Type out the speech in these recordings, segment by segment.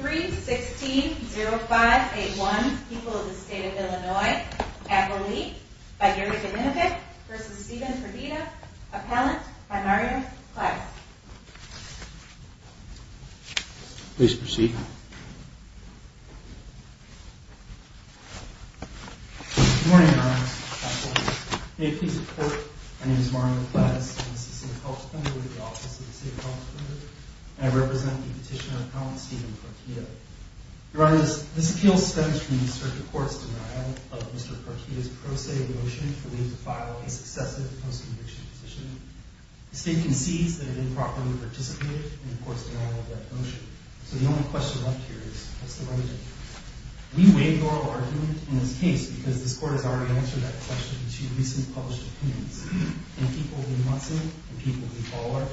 3-16-0581. People of the State of Illinois. Appellee by Erika Minovic v. Stephen Partida. Appellant by Mario Clattis. Good morning, Your Honor. May it please the Court, my name is Mario Clattis. I'm the assistant public defender with the Office of the Assistant Public Defender. I represent the petitioner Appellant Stephen Partida. Your Honor, this appeal stems from the Circuit Court's denial of Mr. Partida's pro se motion for him to file a successive post-conviction petition. The State concedes that it improperly participated in the Court's denial of that motion. So the only question left here is, what's the remedy? We waive the oral argument in this case because this Court has already answered that question in two recent published opinions. In people v. Munson, in people v. Ballard,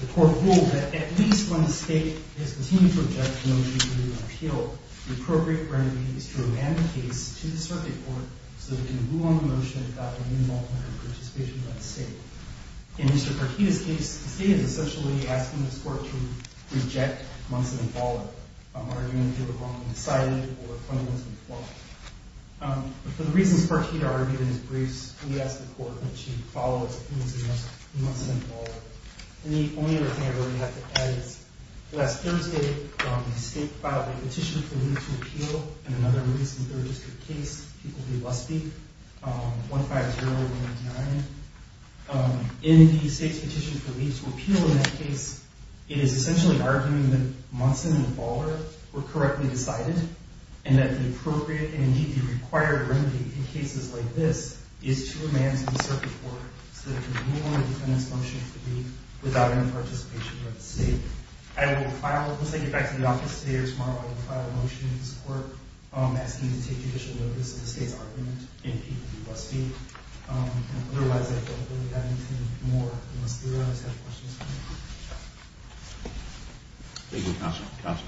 the Court ruled that at least when the State has continued to object to the motion being appealed, the appropriate remedy is to remand the case to the Circuit Court so that it can rule on the motion without any involvement or participation by the State. In Mr. Partida's case, the State is essentially asking this Court to reject Munson v. Ballard, arguing that it was wrongly decided or fundamentally flawed. But for the reasons Partida argued in his briefs, we ask the Court that she follow Munson v. Ballard. The only other thing I really have to add is, last Thursday, the State filed a petition for leave to appeal in another recent Third District case, people v. Busbee, 15019. In the State's petition for leave to appeal in that case, it is essentially arguing that Munson and Ballard were correctly decided, and that the appropriate and, indeed, the required remedy in cases like this is to remand to the Circuit Court so that it can rule on the defendant's motion to leave without any participation by the State. I will file – once I get back to the office today or tomorrow, I will file a motion in this Court asking to take judicial notice of the State's argument in people v. Busbee. Otherwise, I don't really have anything more. Unless you guys have questions for me. Thank you, Counsel. Counsel.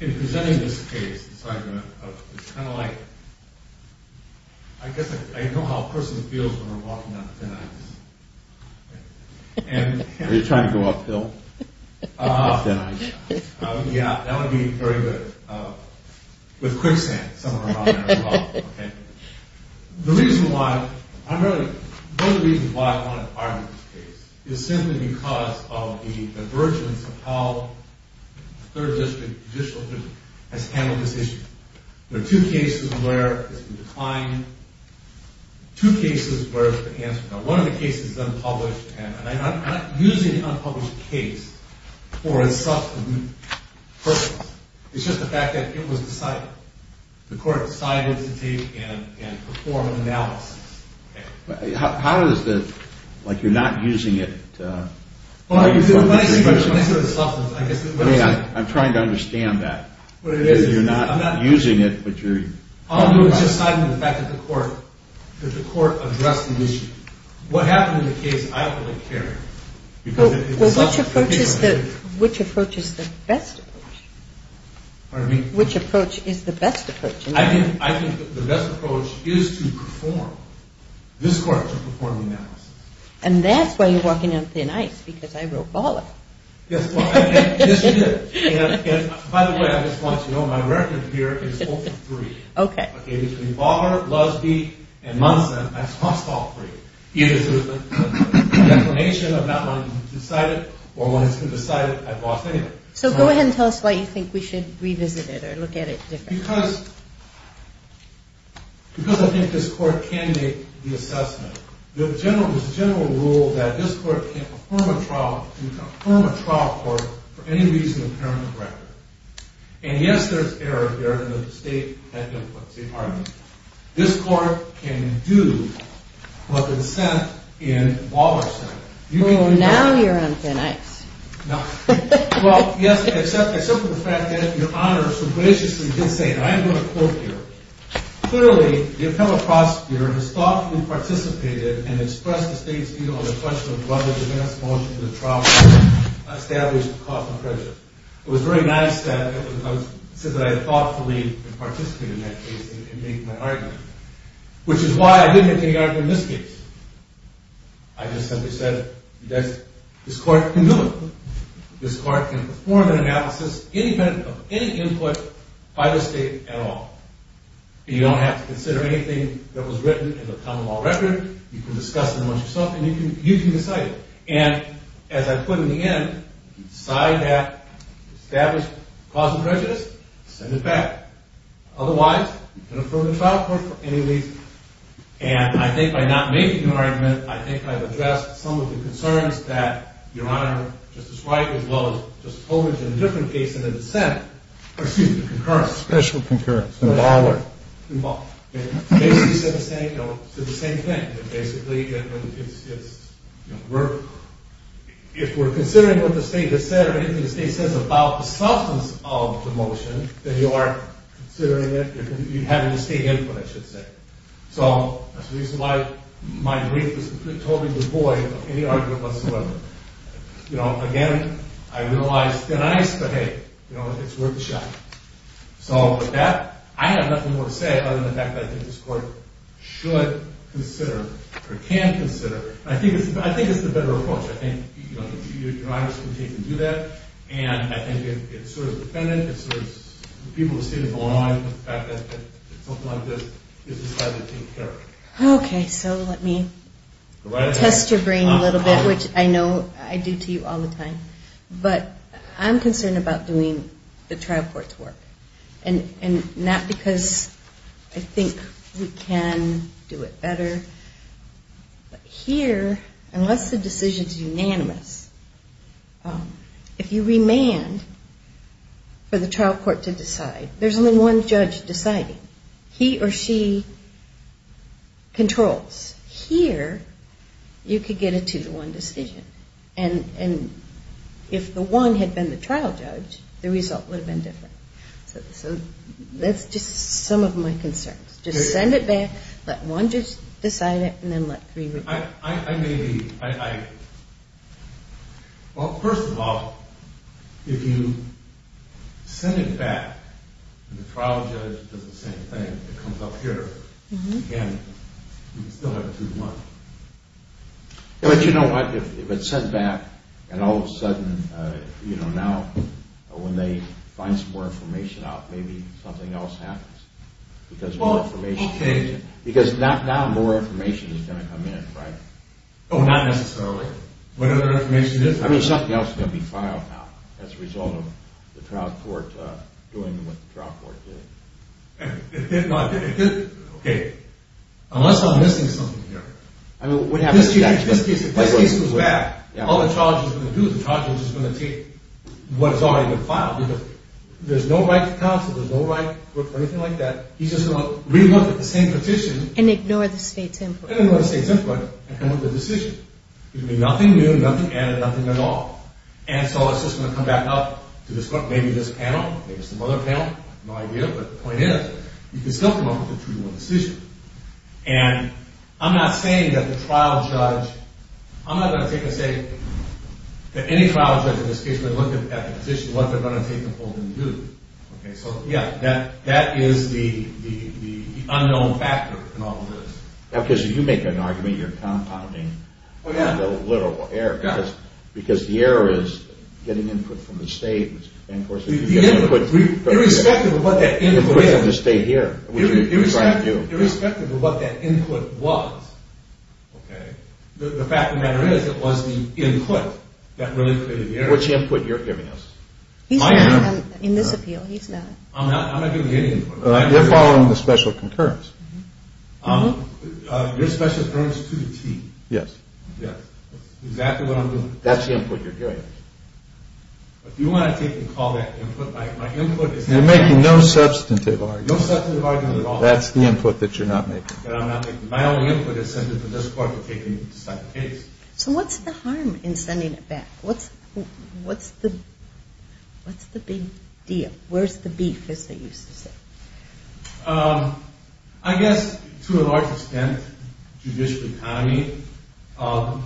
In presenting this case, it's kind of like – I guess I know how a person feels when they're walking on thin ice. Are you trying to go uphill? Yeah, that would be very good. With quicksand somewhere along there as well. The reason why – one of the reasons why I want to argue this case is simply because of the divergence of how the Third District Judicial Committee has handled this issue. There are two cases where it's been declined, two cases where it's been answered. Now, one of the cases is unpublished, and I'm not using the unpublished case for a substantive purpose. It's just the fact that it was decided. The Court decided to take and perform an analysis. How is this – like, you're not using it to – Well, I guess – I mean, I'm trying to understand that. What it is – You're not using it, but you're – No, it's just the fact that the Court addressed the issue. What happened in the case, I don't really care. Well, which approach is the best approach? Pardon me? Which approach is the best approach? I think the best approach is to perform – this Court, to perform an analysis. And that's why you're walking on thin ice, because I wrote all of it. Yes, well, I think – yes, you did. And, by the way, I just want you to know my record here is open three. Okay. Okay, between Baugher, Lusby, and Munson, I've tossed all three. Either it was a declination of not wanting to decide it, or wanting to decide I've lost anything. So go ahead and tell us why you think we should revisit it or look at it differently. Because – because I think this Court can make the assessment. There's a general rule that this Court can't affirm a trial – can confirm a trial court for any reason apparent in the record. And, yes, there's error here, and the State had done what? See, pardon me. This Court can do what the Senate in Baugher said. Well, now you're on thin ice. No. Well, yes, except – except for the fact that Your Honor so graciously did say – and I'm going to quote here. Clearly, the appellate prosecutor has thoughtfully participated and expressed the State's view on the question of whether the last motion to the trial court established a cause for prejudice. It was very nice that I said that I had thoughtfully participated in that case and made my argument, which is why I didn't make any argument in this case. I just simply said that this Court can do it. This Court can perform an analysis independent of any input by the State at all. You don't have to consider anything that was written in the common law record. You can discuss it amongst yourself, and you can decide it. And, as I put in the end, decide that established cause of prejudice, send it back. Otherwise, you can affirm the trial court for any reason. And I think by not making an argument, I think I've addressed some of the concerns that Your Honor just described as well as just told in a different case in the dissent. Excuse me, concurrence. Special concurrence. In Baugher. In Baugher. Basically, it's the same thing. Basically, if we're considering what the State has said or anything the State says about the substance of the motion, then you are considering it. You have a distinct input, I should say. So that's the reason why my brief was completely devoid of any argument whatsoever. Again, I utilized thin ice, but hey, it's worth a shot. So with that, I have nothing more to say other than the fact that I think this Court should consider or can consider. I think it's the better approach. I think Your Honor should continue to do that. And I think it's sort of dependent. It's sort of the people of the State of Illinois, the fact that something like this is decidedly taken care of. Okay, so let me test your brain a little bit, which I know I do to you all the time. But I'm concerned about doing the trial court's work. And not because I think we can do it better. But here, unless the decision is unanimous, if you remand for the trial court to decide, there's only one judge deciding. He or she controls. Here, you could get a two-to-one decision. And if the one had been the trial judge, the result would have been different. So that's just some of my concerns. Just send it back, let one judge decide it, and then let three. I may be – well, first of all, if you send it back and the trial judge does the same thing, it comes up here. Again, you still have a two-to-one. But you know what? If it's sent back and all of a sudden, you know, now when they find some more information out, maybe something else happens. Because now more information is going to come in, right? Oh, not necessarily. What other information? I mean, something else is going to be filed out as a result of the trial court doing what the trial court did. Okay. Unless I'm missing something here. This case was bad. All the trial judge is going to do is the trial judge is going to take what has already been filed. There's no right to counsel. There's no right for anything like that. He's just going to re-look at the same petition. And ignore the state's input. And ignore the state's input and come up with a decision. There's going to be nothing new, nothing added, nothing at all. And so it's just going to come back up to maybe this panel, maybe some other panel. I have no idea. But the point is, you can still come up with a 2-to-1 decision. And I'm not saying that the trial judge, I'm not going to say that any trial judge in this case would look at the petition, what they're going to take a hold and do. Okay. So, yeah, that is the unknown factor in all of this. Because if you make an argument, you're compounding the literal error. Because the error is getting input from the state. Irrespective of what that input is, irrespective of what that input was, okay, the fact of the matter is it was the input that really created the error. Which input you're giving us? He's not in this appeal. He's not. I'm not giving any input. They're following the special concurrence. Your special concurrence to the T. Yes. Yes. That's exactly what I'm doing. That's the input you're giving us. If you want to take and call that input, my input is... You're making no substantive arguments. No substantive arguments at all. That's the input that you're not making. That I'm not making. My only input is simply for this court to take and decide the case. So what's the harm in sending it back? What's the big deal? Where's the beef, as they used to say? I guess, to a large extent, judicial economy. Also...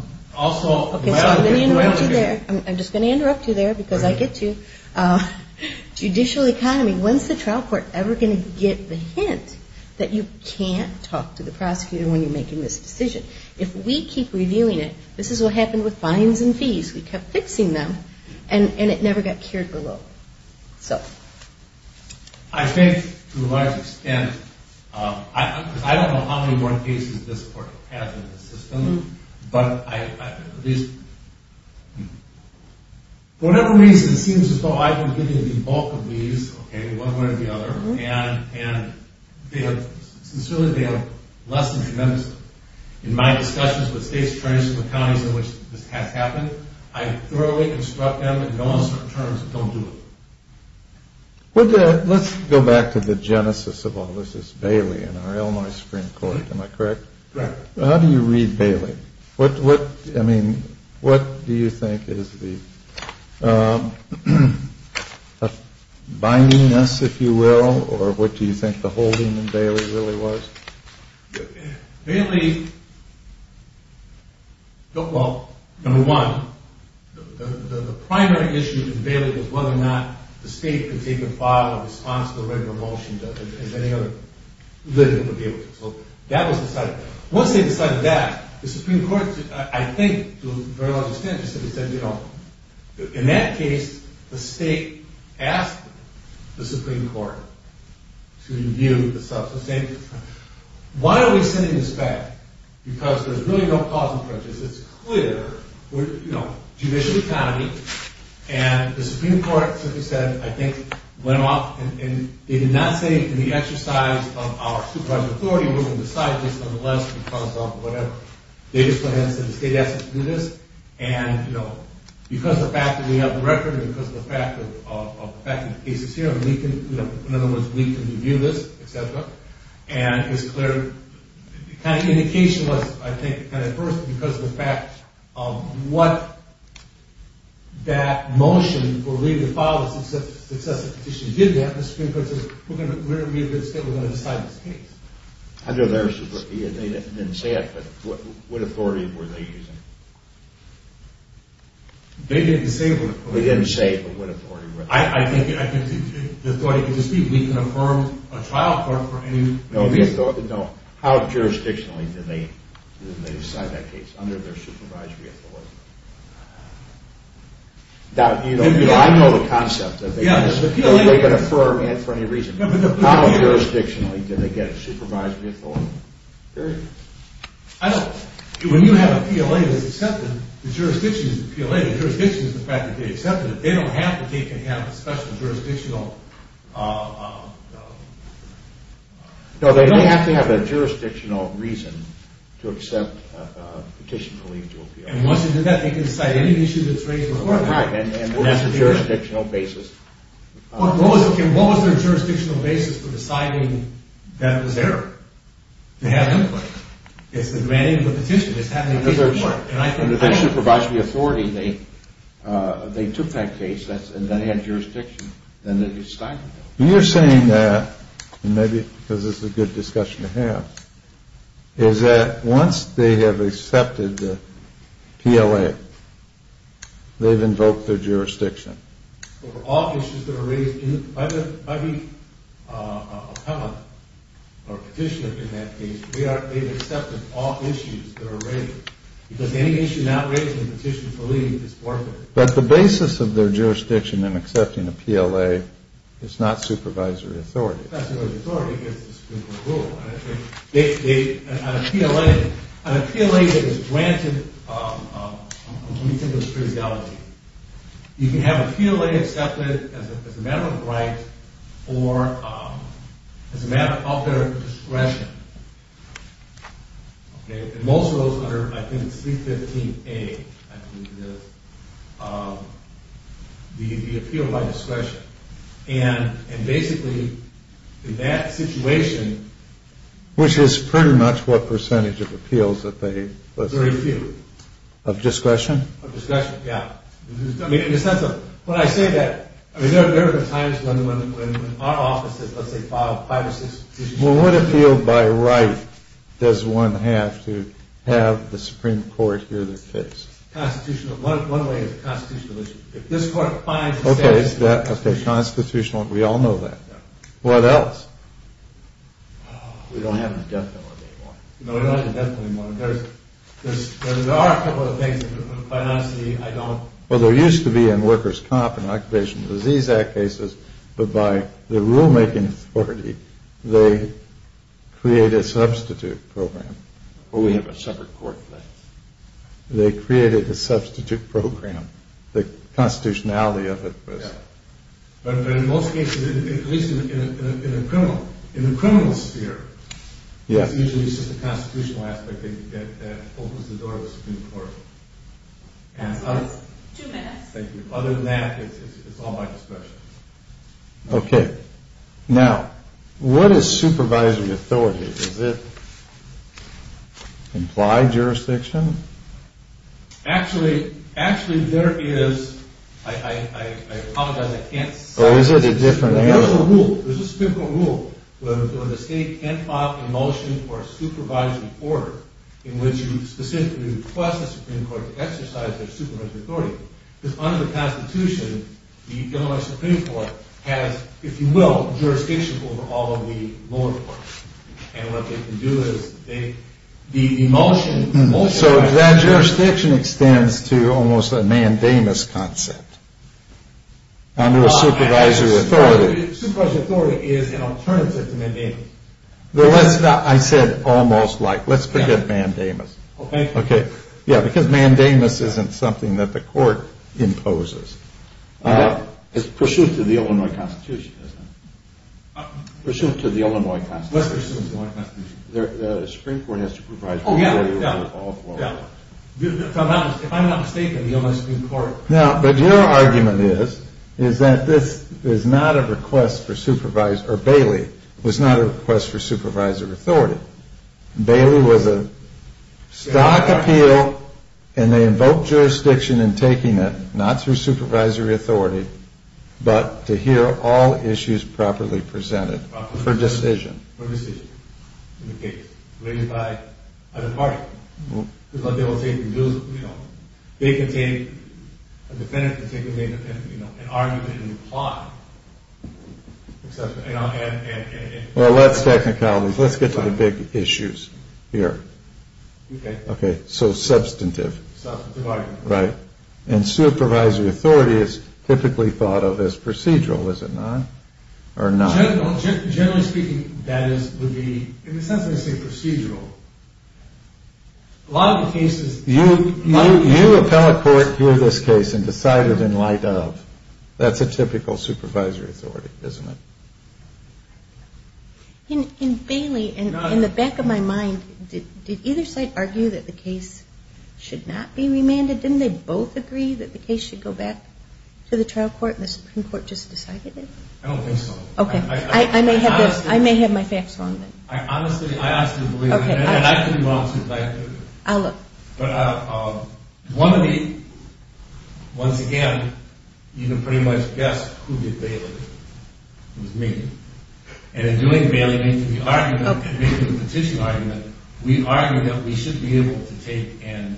Okay, so I'm going to interrupt you there. I'm just going to interrupt you there, because I get you. Judicial economy. When's the trial court ever going to get the hint that you can't talk to the prosecutor when you're making this decision? If we keep reviewing it, this is what happened with fines and fees. We kept fixing them, and it never got cured below. I think, to a large extent, because I don't know how many more cases this court has in the system, but I... For whatever reason, it seems as though I've been giving you the bulk of these, one way or the other, and sincerely, they have lessened tremendously. In my discussions with states, counties in which this has happened, I thoroughly instruct them to go on certain terms and don't do it. Let's go back to the genesis of all this. This is Bailey in our Illinois Supreme Court. Am I correct? Correct. How do you read Bailey? I mean, what do you think is the bindiness, if you will, or what do you think the holding in Bailey really was? Bailey... Well, number one, the primary issue in Bailey was whether or not the state could take a file in response to the written revulsion as any other litigant would be able to. So that was decided. Once they decided that, the Supreme Court, I think, to a very large extent, just simply said, you know, in that case, the state asked the Supreme Court to review the substance. Why are we sending this back? Because there's really no cause and purpose. It's clear we're, you know, judicial economy, and the Supreme Court simply said, I think, went off and did not say in the exercise of our superior authority, we're going to decide this nonetheless because of whatever. They just went ahead and said the state asked us to do this, and, you know, because of the fact that we have the record and because of the fact that the case is here, we can, you know, in other words, we can review this, et cetera, and it's clear the kind of indication was, I think, kind of first because of the fact of what that motion for reading the file of the successive petitions did have. The Supreme Court said, we're going to review this, and we're going to decide this case. Under their, they didn't say it, but what authority were they using? They didn't say what authority. They didn't say what authority. I think the authority could just be we can affirm a trial court for any reason. No, how jurisdictionally did they decide that case? Under their supervisory authority. You know, I know the concept. They can affirm it for any reason. How jurisdictionally did they get it? Supervisory authority. Period. I don't, when you have a PLA that's accepted, the jurisdiction is the PLA, the jurisdiction is the fact that they accepted it. They don't have to take in hand a special jurisdictional. No, they have to have a jurisdictional reason to accept a petition for leave to appeal. And once they do that, they can decide any issue that's raised before them. Right, and that's a jurisdictional basis. What was their jurisdictional basis for deciding that was error? To have input. It's the demanding of the petition. It's having input. Under their supervisory authority, they took that case and then had jurisdiction. Then they decided that. You're saying that, and maybe because this is a good discussion to have, is that once they have accepted the PLA, they've invoked their jurisdiction. Over all issues that are raised by the appellant or petitioner in that case, they've accepted all issues that are raised. Because any issue not raised in the petition for leave is forfeited. But the basis of their jurisdiction in accepting a PLA is not supervisory authority. Supervisory authority is the Supreme Court rule. On a PLA that is granted complete indiscretionality, you can have a PLA accepted as a matter of right or as a matter of their discretion. And most of those are, I think, C-15A. The appeal by discretion. And basically, in that situation... Which is pretty much what percentage of appeals that they... Very few. Of discretion? Of discretion, yeah. I mean, in the sense of, when I say that, I mean, there have been times when our offices, let's say, filed five or six petitions... Well, what appeal by right does one have to have the Supreme Court hear their case? Constitutional. One way is a constitutional issue. Okay, constitutional. We all know that. What else? Well, there used to be in Workers' Comp and Occupational Disease Act cases, but by the rulemaking authority, they created a substitute program. They created a substitute program. The constitutionality of it was... Yeah. But in most cases, at least in the criminal sphere, it's usually just the constitutional aspect that opens the door to the Supreme Court. Two minutes. Thank you. Other than that, it's all by discretion. Okay. Now, what is supervisory authority? Does it imply jurisdiction? Actually, there is... I apologize, I can't... Oh, is it a different... There's a rule, there's a Supreme Court rule, where the state can't opt emulsion for a supervisory order in which you specifically request the Supreme Court to exercise their supervisory authority. Because under the constitution, the Illinois Supreme Court has, if you will, jurisdiction over all of the lower courts. And what they can do is... The emulsion... So that jurisdiction extends to almost a mandamus concept. Under a supervisory authority. Supervisory authority is an alternative to mandamus. Well, let's not... I said almost like... Let's forget mandamus. Okay. Yeah, because mandamus isn't something that the court imposes. It's pursuant to the Illinois Constitution, isn't it? Pursuant to the Illinois Constitution. Let's pursuant to the Illinois Constitution. The Supreme Court has supervisory authority over all the lower courts. Oh, yeah, yeah. If I'm not mistaken, the Illinois Supreme Court... Now, but your argument is, is that this is not a request for supervisory... Or Bailey was not a request for supervisory authority. Bailey was a stock appeal, and they invoked jurisdiction in taking it, not through supervisory authority, but to hear all issues properly presented for decision. For decision. In the case. Raised by other parties. Because they will take, you know, they can take a defendant, they can take an argument in the plot, etc. Well, that's technicalities. Let's get to the big issues here. Okay. Okay. So, substantive. Substantive argument. Right. And supervisory authority is typically thought of as procedural, is it not? Or not? Generally speaking, that is, would be, in a sense, I say procedural. A lot of the cases... You appellate court here this case and decide it in light of. That's a typical supervisory authority, isn't it? In Bailey, in the back of my mind, did either side argue that the case should not be remanded? Didn't they both agree that the case should go back to the trial court, and the Supreme Court just decided it? I don't think so. Okay. I may have my facts wrong then. Honestly, I ask you to believe me. Okay. And I could be wrong, too, if I have to. I'll look. But one of the, once again, you can pretty much guess who did Bailey. It was me. And in doing Bailey, making the argument, making the petition argument, we argued that we should be able to take and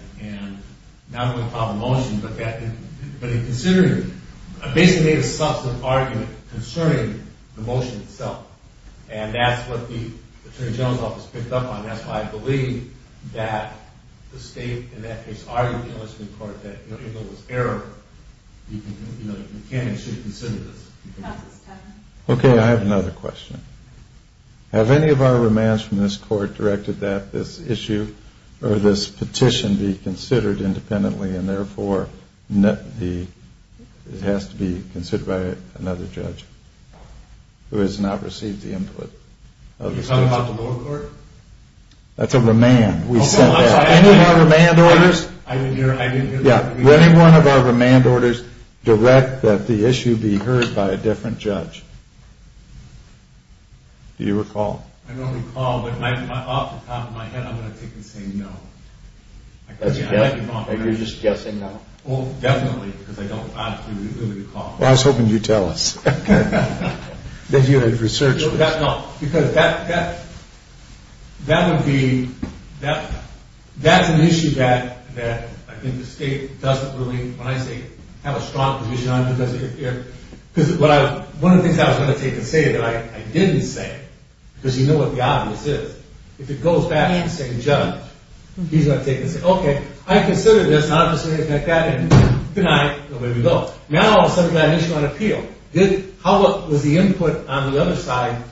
not only file a motion, but in considering, basically made a substantive argument concerning the motion itself. And that's what the Attorney General's Office picked up on. That's why I believe that the state, in that case, argued in the Supreme Court that, even though it was error, you can and should consider this. Okay. I have another question. Have any of our remands from this court directed that this issue or this petition be considered independently and, therefore, it has to be considered by another judge who has not received the input? Are you talking about the lower court? That's a remand. We sent that. Any of our remand orders? I didn't hear that. Yeah. Would any one of our remand orders direct that the issue be heard by a different judge? Do you recall? I don't recall, but off the top of my head, I'm going to take and say no. You're just guessing now? Oh, definitely, because I don't, obviously, recall. Well, I was hoping you'd tell us. That you had researched this. No, because that would be, that's an issue that I think the state doesn't really, when I say have a strong position on it, because one of the things I was going to take and say that I didn't say, because you know what the obvious is, if it goes back to the second judge, he's going to take it and say, okay, I considered this, and I'm just going to take that and deny it. Now I'll settle that issue on appeal. How was the input on the other side,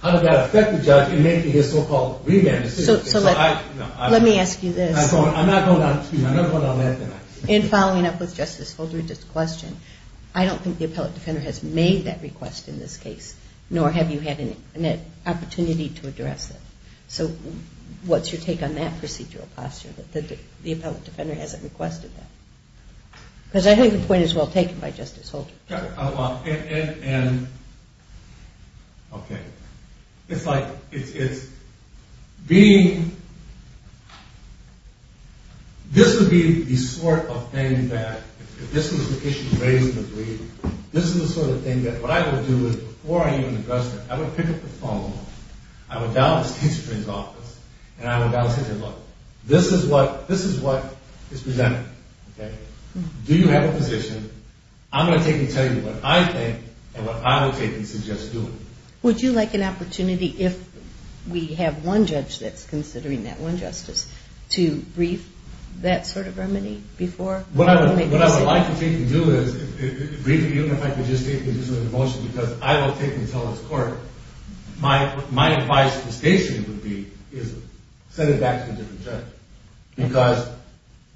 how did that affect the judge in making his so-called remand decision? So let me ask you this. I'm not going down that path. In following up with Justice Holdred's question, I don't think the appellate defender has made that request in this case, nor have you had an opportunity to address it. So what's your take on that procedural posture, that the appellate defender hasn't requested that? Because I think the point is well taken by Justice Holdred. Okay. It's like, it's being, this would be the sort of thing that, if this was the issue raised in the brief, this is the sort of thing that what I would do is before I even addressed it, I would pick up the phone, I would dial the state attorney's office, and I would dial the state attorney's office. This is what is presented. Do you have a position? I'm going to take and tell you what I think and what I would take and suggest doing. Would you like an opportunity, if we have one judge that's considering that one justice, to brief that sort of remedy before? What I would like to take and do is brief the union if I could just take and do sort of a motion, because I will take and tell this court. My advice to the state attorney would be is send it back to a different judge. Because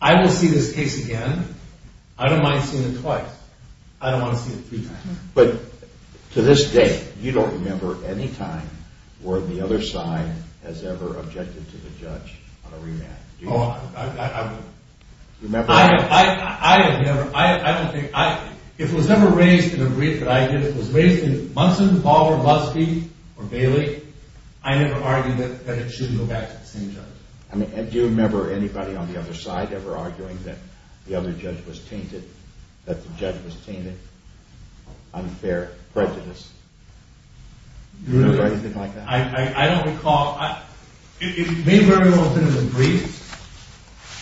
I will see this case again. I don't mind seeing it twice. I don't want to see it three times. But to this day, you don't remember any time where the other side has ever objected to the judge on a remand. Oh, I don't know. I have never. I don't think. If it was ever raised in a brief that I did, if it was raised in Munson, Baldwin, Muskie, or Bailey, I never argued that it should go back to the same judge. Do you remember anybody on the other side ever arguing that the other judge was tainted, that the judge was tainted, unfair, prejudiced? Do you remember anything like that? I don't recall. It may very well have been in a brief.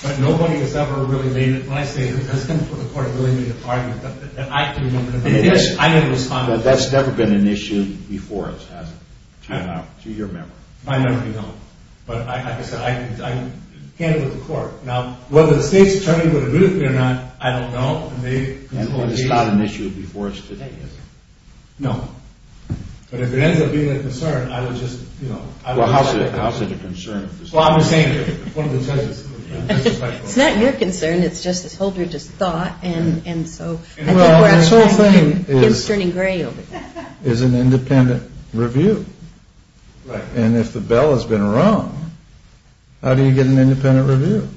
But nobody has ever really made it. When I say it, that's going to put the court in a really big argument that I can remember. But that's never been an issue before, has it, to your memory? My memory, no. But like I said, I can handle the court. Now, whether the state's attorney would agree with me or not, I don't know. And it's not an issue before us today, is it? No. But if it ends up being a concern, I would just, you know... Well, how is it a concern? Well, I'm just saying that one of the judges... It's not your concern. It's Justice Holdridge's thought, and so... Well, this whole thing is an independent review. And if the bell has been rung, how do you get an independent review?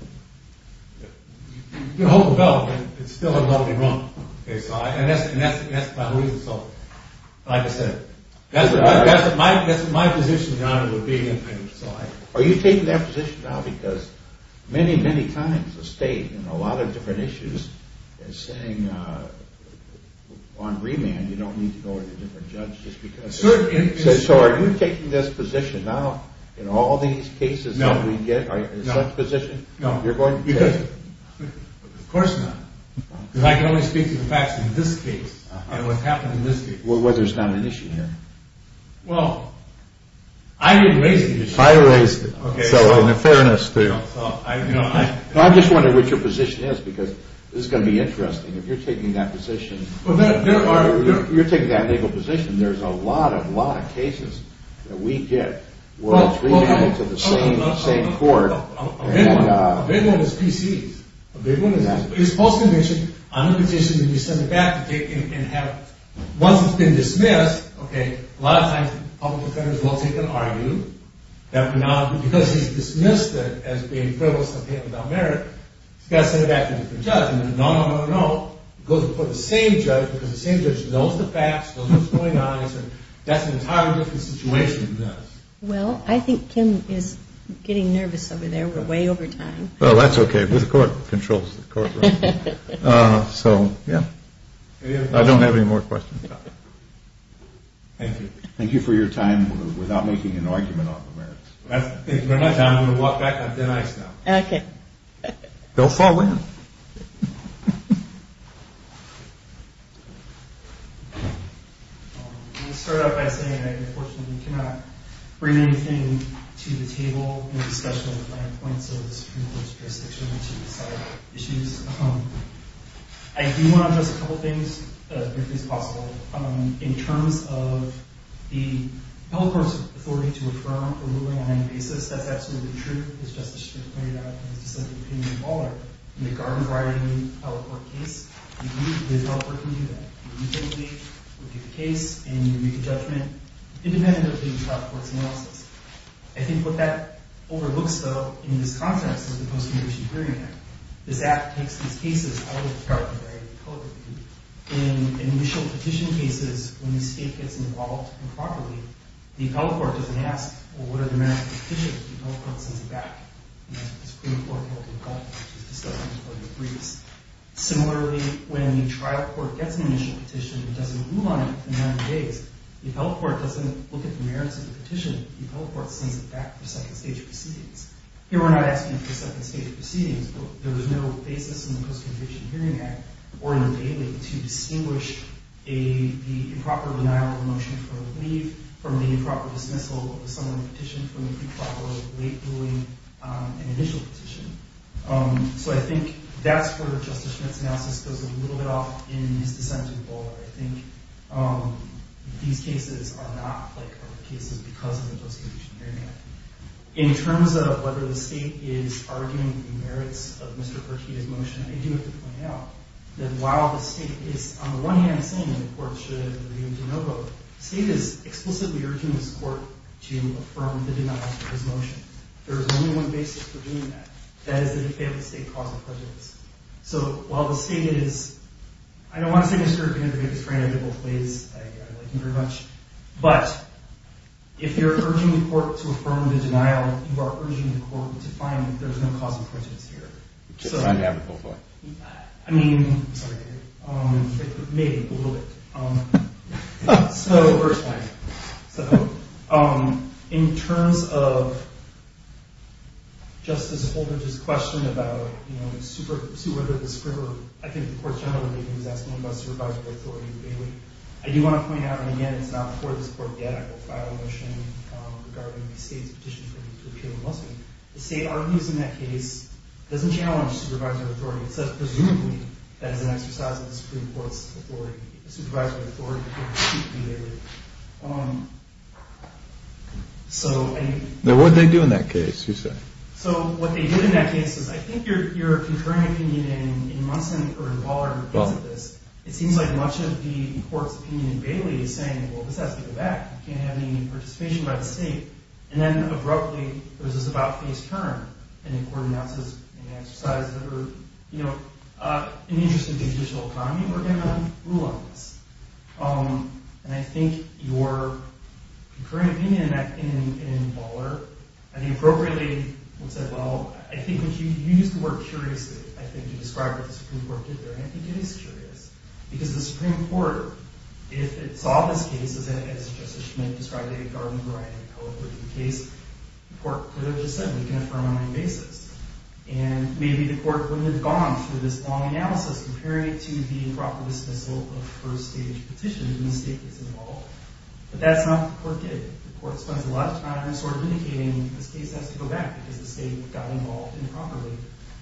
You hold the bell, and it's still about to be rung. And that's my reason. Like I said, that's my position, Your Honor, with being independent. Are you taking that position now because many, many times the state, in a lot of different issues, is saying, on remand, you don't need to go to a different judge just because... So are you taking this position now in all these cases that we get? No. Is that the position you're going to take? Of course not. Because I can only speak to the facts in this case and what happened in this case. Well, there's not an issue here. Well, I erased the issue. I erased it. So in fairness to you. No, I'm just wondering what your position is because this is going to be interesting. If you're taking that legal position, there's a lot, a lot of cases that we get where it's remanded to the same court. A big one is PC's. A big one is that. It's post-conviction. On the petition, you send it back to him and have it. Once it's been dismissed, okay, a lot of times public defenders will take and argue that because he's dismissed it as being frivolous and about merit, he's got to send it back to a different judge. No, no, no, no, no. It goes before the same judge because the same judge knows the facts, knows what's going on, and that's an entirely different situation than this. Well, I think Kim is getting nervous over there. We're way over time. Well, that's okay. His court controls the courtroom. So, yeah. I don't have any more questions. Thank you. Thank you for your time without making an argument on the merits. Thank you very much. I'm going to walk back on thin ice now. Okay. They'll fall in. I'm going to start out by saying I unfortunately cannot bring anything to the table in a discussion of the fine points of the Supreme Court's jurisdiction to decide issues. I do want to address a couple things as briefly as possible. In terms of the public court's authority to affirm a ruling on any basis, that's absolutely true. As Justice Strickland pointed out in his dissenting opinion in Waller, in the Garden-Brighton public court case, the public court can do that. You can make a case and you make a judgment independent of the public court's analysis. I think what that overlooks, though, in this context is the post-conviction hearing act. This act takes these cases out of the Garden-Brighton public court. In initial petition cases, when the state gets involved improperly, the appellate court doesn't ask, well, what are the merits of the petition? The appellate court sends it back. And then the Supreme Court can look at that, which is discussed in the court of briefs. Similarly, when the trial court gets an initial petition and doesn't move on it in a matter of days, the appellate court doesn't look at the merits of the petition. The appellate court sends it back for second-stage proceedings. Here we're not asking for second-stage proceedings, but there was no basis in the post-conviction hearing act or in the bailing to distinguish the improper denial of a motion for a leave from the improper dismissal of a summary petition from the pre-trial or late ruling on an initial petition. So I think that's where Justice Schmitz's analysis goes a little bit off in his dissenting in Waller. I think these cases are not like other cases because of the post-conviction hearing act. In terms of whether the state is arguing the merits of Mr. Pertina's motion, I do have to point out that while the state is, on the one hand, saying that the court should review DeNovo, the state is explicitly urging this court to affirm the denial of his motion. There is only one basis for doing that. That is that he failed to state causal prejudice. So while the state is, I don't want to say Mr. Pertina is a very negligible place. I like him very much. But if you're urging the court to affirm the denial, you are urging the court to find that there is no causal prejudice here. It's undeniable for him. I mean, maybe a little bit. So we're explaining. In terms of Justice Holdren's question about whether the Supreme Court, I think the court's general opinion was asking about supervisory authority. I do want to point out, and again, it's not before this court yet, I will file a motion regarding the state's petition for him to appear in Muslim. The state argues in that case, doesn't challenge supervisory authority, except presumably that is an exercise of the Supreme Court's authority, a supervisory authority. Now, what did they do in that case, you say? So what they did in that case is, I think your concurring opinion in Munson, or in Waller, in the case of this, it seems like much of the court's opinion in Bailey is saying, well, this has to go back. You can't have any participation by the state. And then abruptly, there was this about-face turn, and the court announces an exercise that are, you know, in the interest of the judicial economy, we're going to rule on this. And I think your concurring opinion in Waller, I think appropriately, would say, well, I think you used the word curiously, I think, to describe what the Supreme Court did there. And I think it is curious. Because the Supreme Court, if it saw this case, as Justice Schmitt described it in Garland, the case, the court could have just said, we can affirm on my basis. And maybe the court wouldn't have gone through this long analysis comparing it to the improper dismissal of first-stage petitions when the state gets involved. But that's not what the court did. The court spends a lot of time sort of indicating, this case has to go back because the state got involved improperly.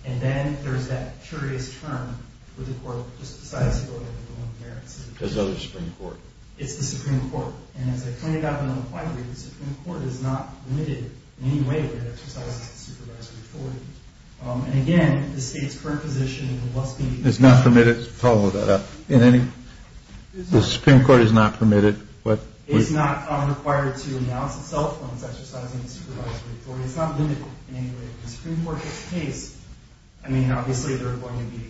And then there's that curious turn where the court just decides to go ahead and rule on the merits of the case. Because of the Supreme Court. It's the Supreme Court. And as I pointed out in the point, the Supreme Court is not limited in any way that it exercises its supervisory authority. And again, the state's current position must be. It's not permitted. Follow that up. The Supreme Court is not permitted. It's not required to announce itself when it's exercising its supervisory authority. It's not limited in any way. If the Supreme Court gets a case, I mean, obviously there are going to be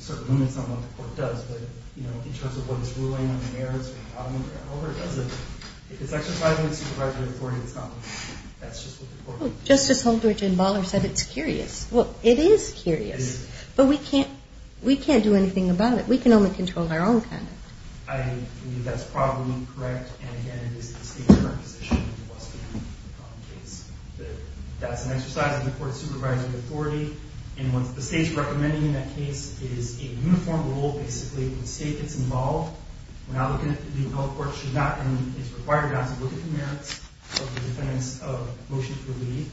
sort of limits on what the court does. But in terms of what it's ruling on the merits or however it does it, if it's exercising its supervisory authority, that's just what the court will do. Justice Holdridge and Baller said it's curious. Well, it is curious. It is. But we can't do anything about it. We can only control our own conduct. I believe that's probably correct. And again, it is the state's current position. It must be in the case. That's an exercise of the court's supervisory authority. And what the state's recommending in that case is a uniform rule. Basically, if the state gets involved, the adult court should not, and it's required not to, look at the merits of the defendant's motion to leave,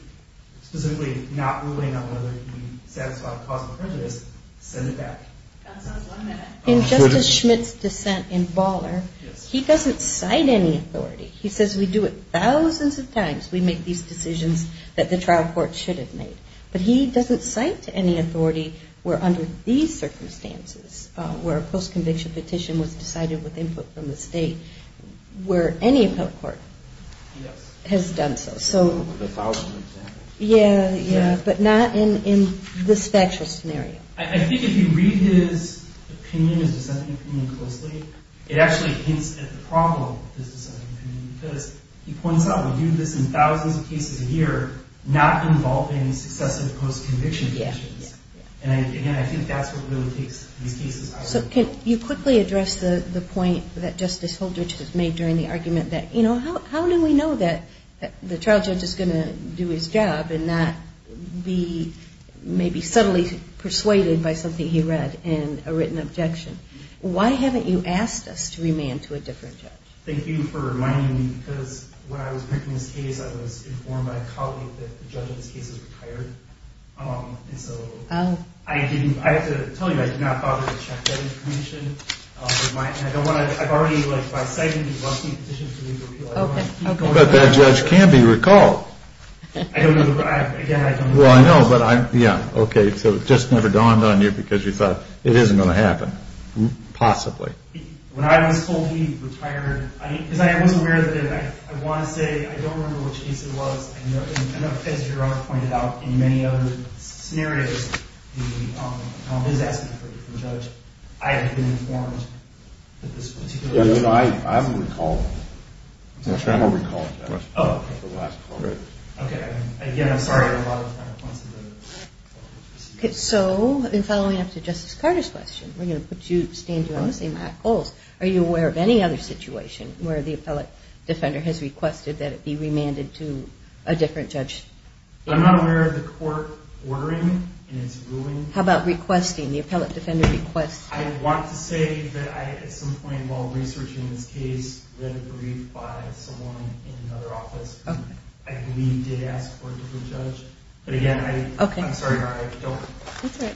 specifically not ruling on whether he satisfied a cause of prejudice, send it back. In Justice Schmidt's dissent in Baller, he doesn't cite any authority. He says we do it thousands of times. We make these decisions that the trial court should have made. But he doesn't cite any authority where under these circumstances, where a post-conviction petition was decided with input from the state, where any appellate court has done so. A thousand times. Yeah, yeah, but not in this factual scenario. I think if you read his opinion, his dissenting opinion closely, it actually hints at the problem with his dissenting opinion because he points out we do this in thousands of cases a year, not involving successive post-conviction petitions. And again, I think that's what really takes these cases out of control. So can you quickly address the point that Justice Holdridge has made during the argument that, you know, how do we know that the trial judge is going to do his job and not be maybe subtly persuaded by something he read and a written objection? Why haven't you asked us to remand to a different judge? Thank you for reminding me because when I was making this case, I was informed by a colleague that the judge in this case is retired. And so I have to tell you, I did not bother to check that information. And I don't want to – I've already, like, by citing the bustling petition for legal appeal, I don't want to keep going on. But that judge can be recalled. I don't know. Again, I don't know. Well, I know, but I – yeah, okay. So it just never dawned on you because you thought it isn't going to happen. Possibly. When I was told he retired – because I was aware of it, and I want to say I don't remember which case it was. And as your Honor pointed out, in many other scenarios, the – his asking for the judge. I have been informed that this particular – Yeah, no, no, I haven't recalled. That's right. I haven't recalled that. Oh, okay. Okay. Again, I'm sorry. Okay, so in following up to Justice Carter's question, we're going to put you – stand you on the same high poles. Are you aware of any other situation where the appellate defender has requested that it be remanded to a different judge? I'm not aware of the court ordering in its ruling. How about requesting, the appellate defender requests? I want to say that I, at some point while researching this case, read a brief by someone in another office. Okay. I believe did ask for a different judge. But again, I – Okay. I'm sorry, Your Honor, I don't – That's all right.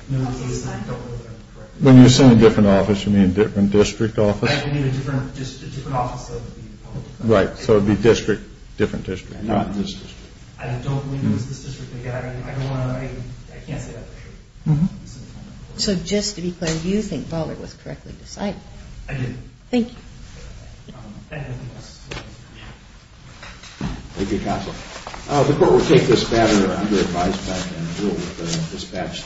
When you say a different office, you mean a different district office? I mean a different – just a different office of the appellate defender. Right. So it would be district – different district. Not this district. I don't believe it was this district. Again, I don't want to – I can't say that for sure. Mm-hmm. So just to be clear, do you think Ballard was correctly decided? I did. Thank you. I have nothing else to say. Thank you, counsel. The court will take this matter under advised by Judge Juul with the dispatch.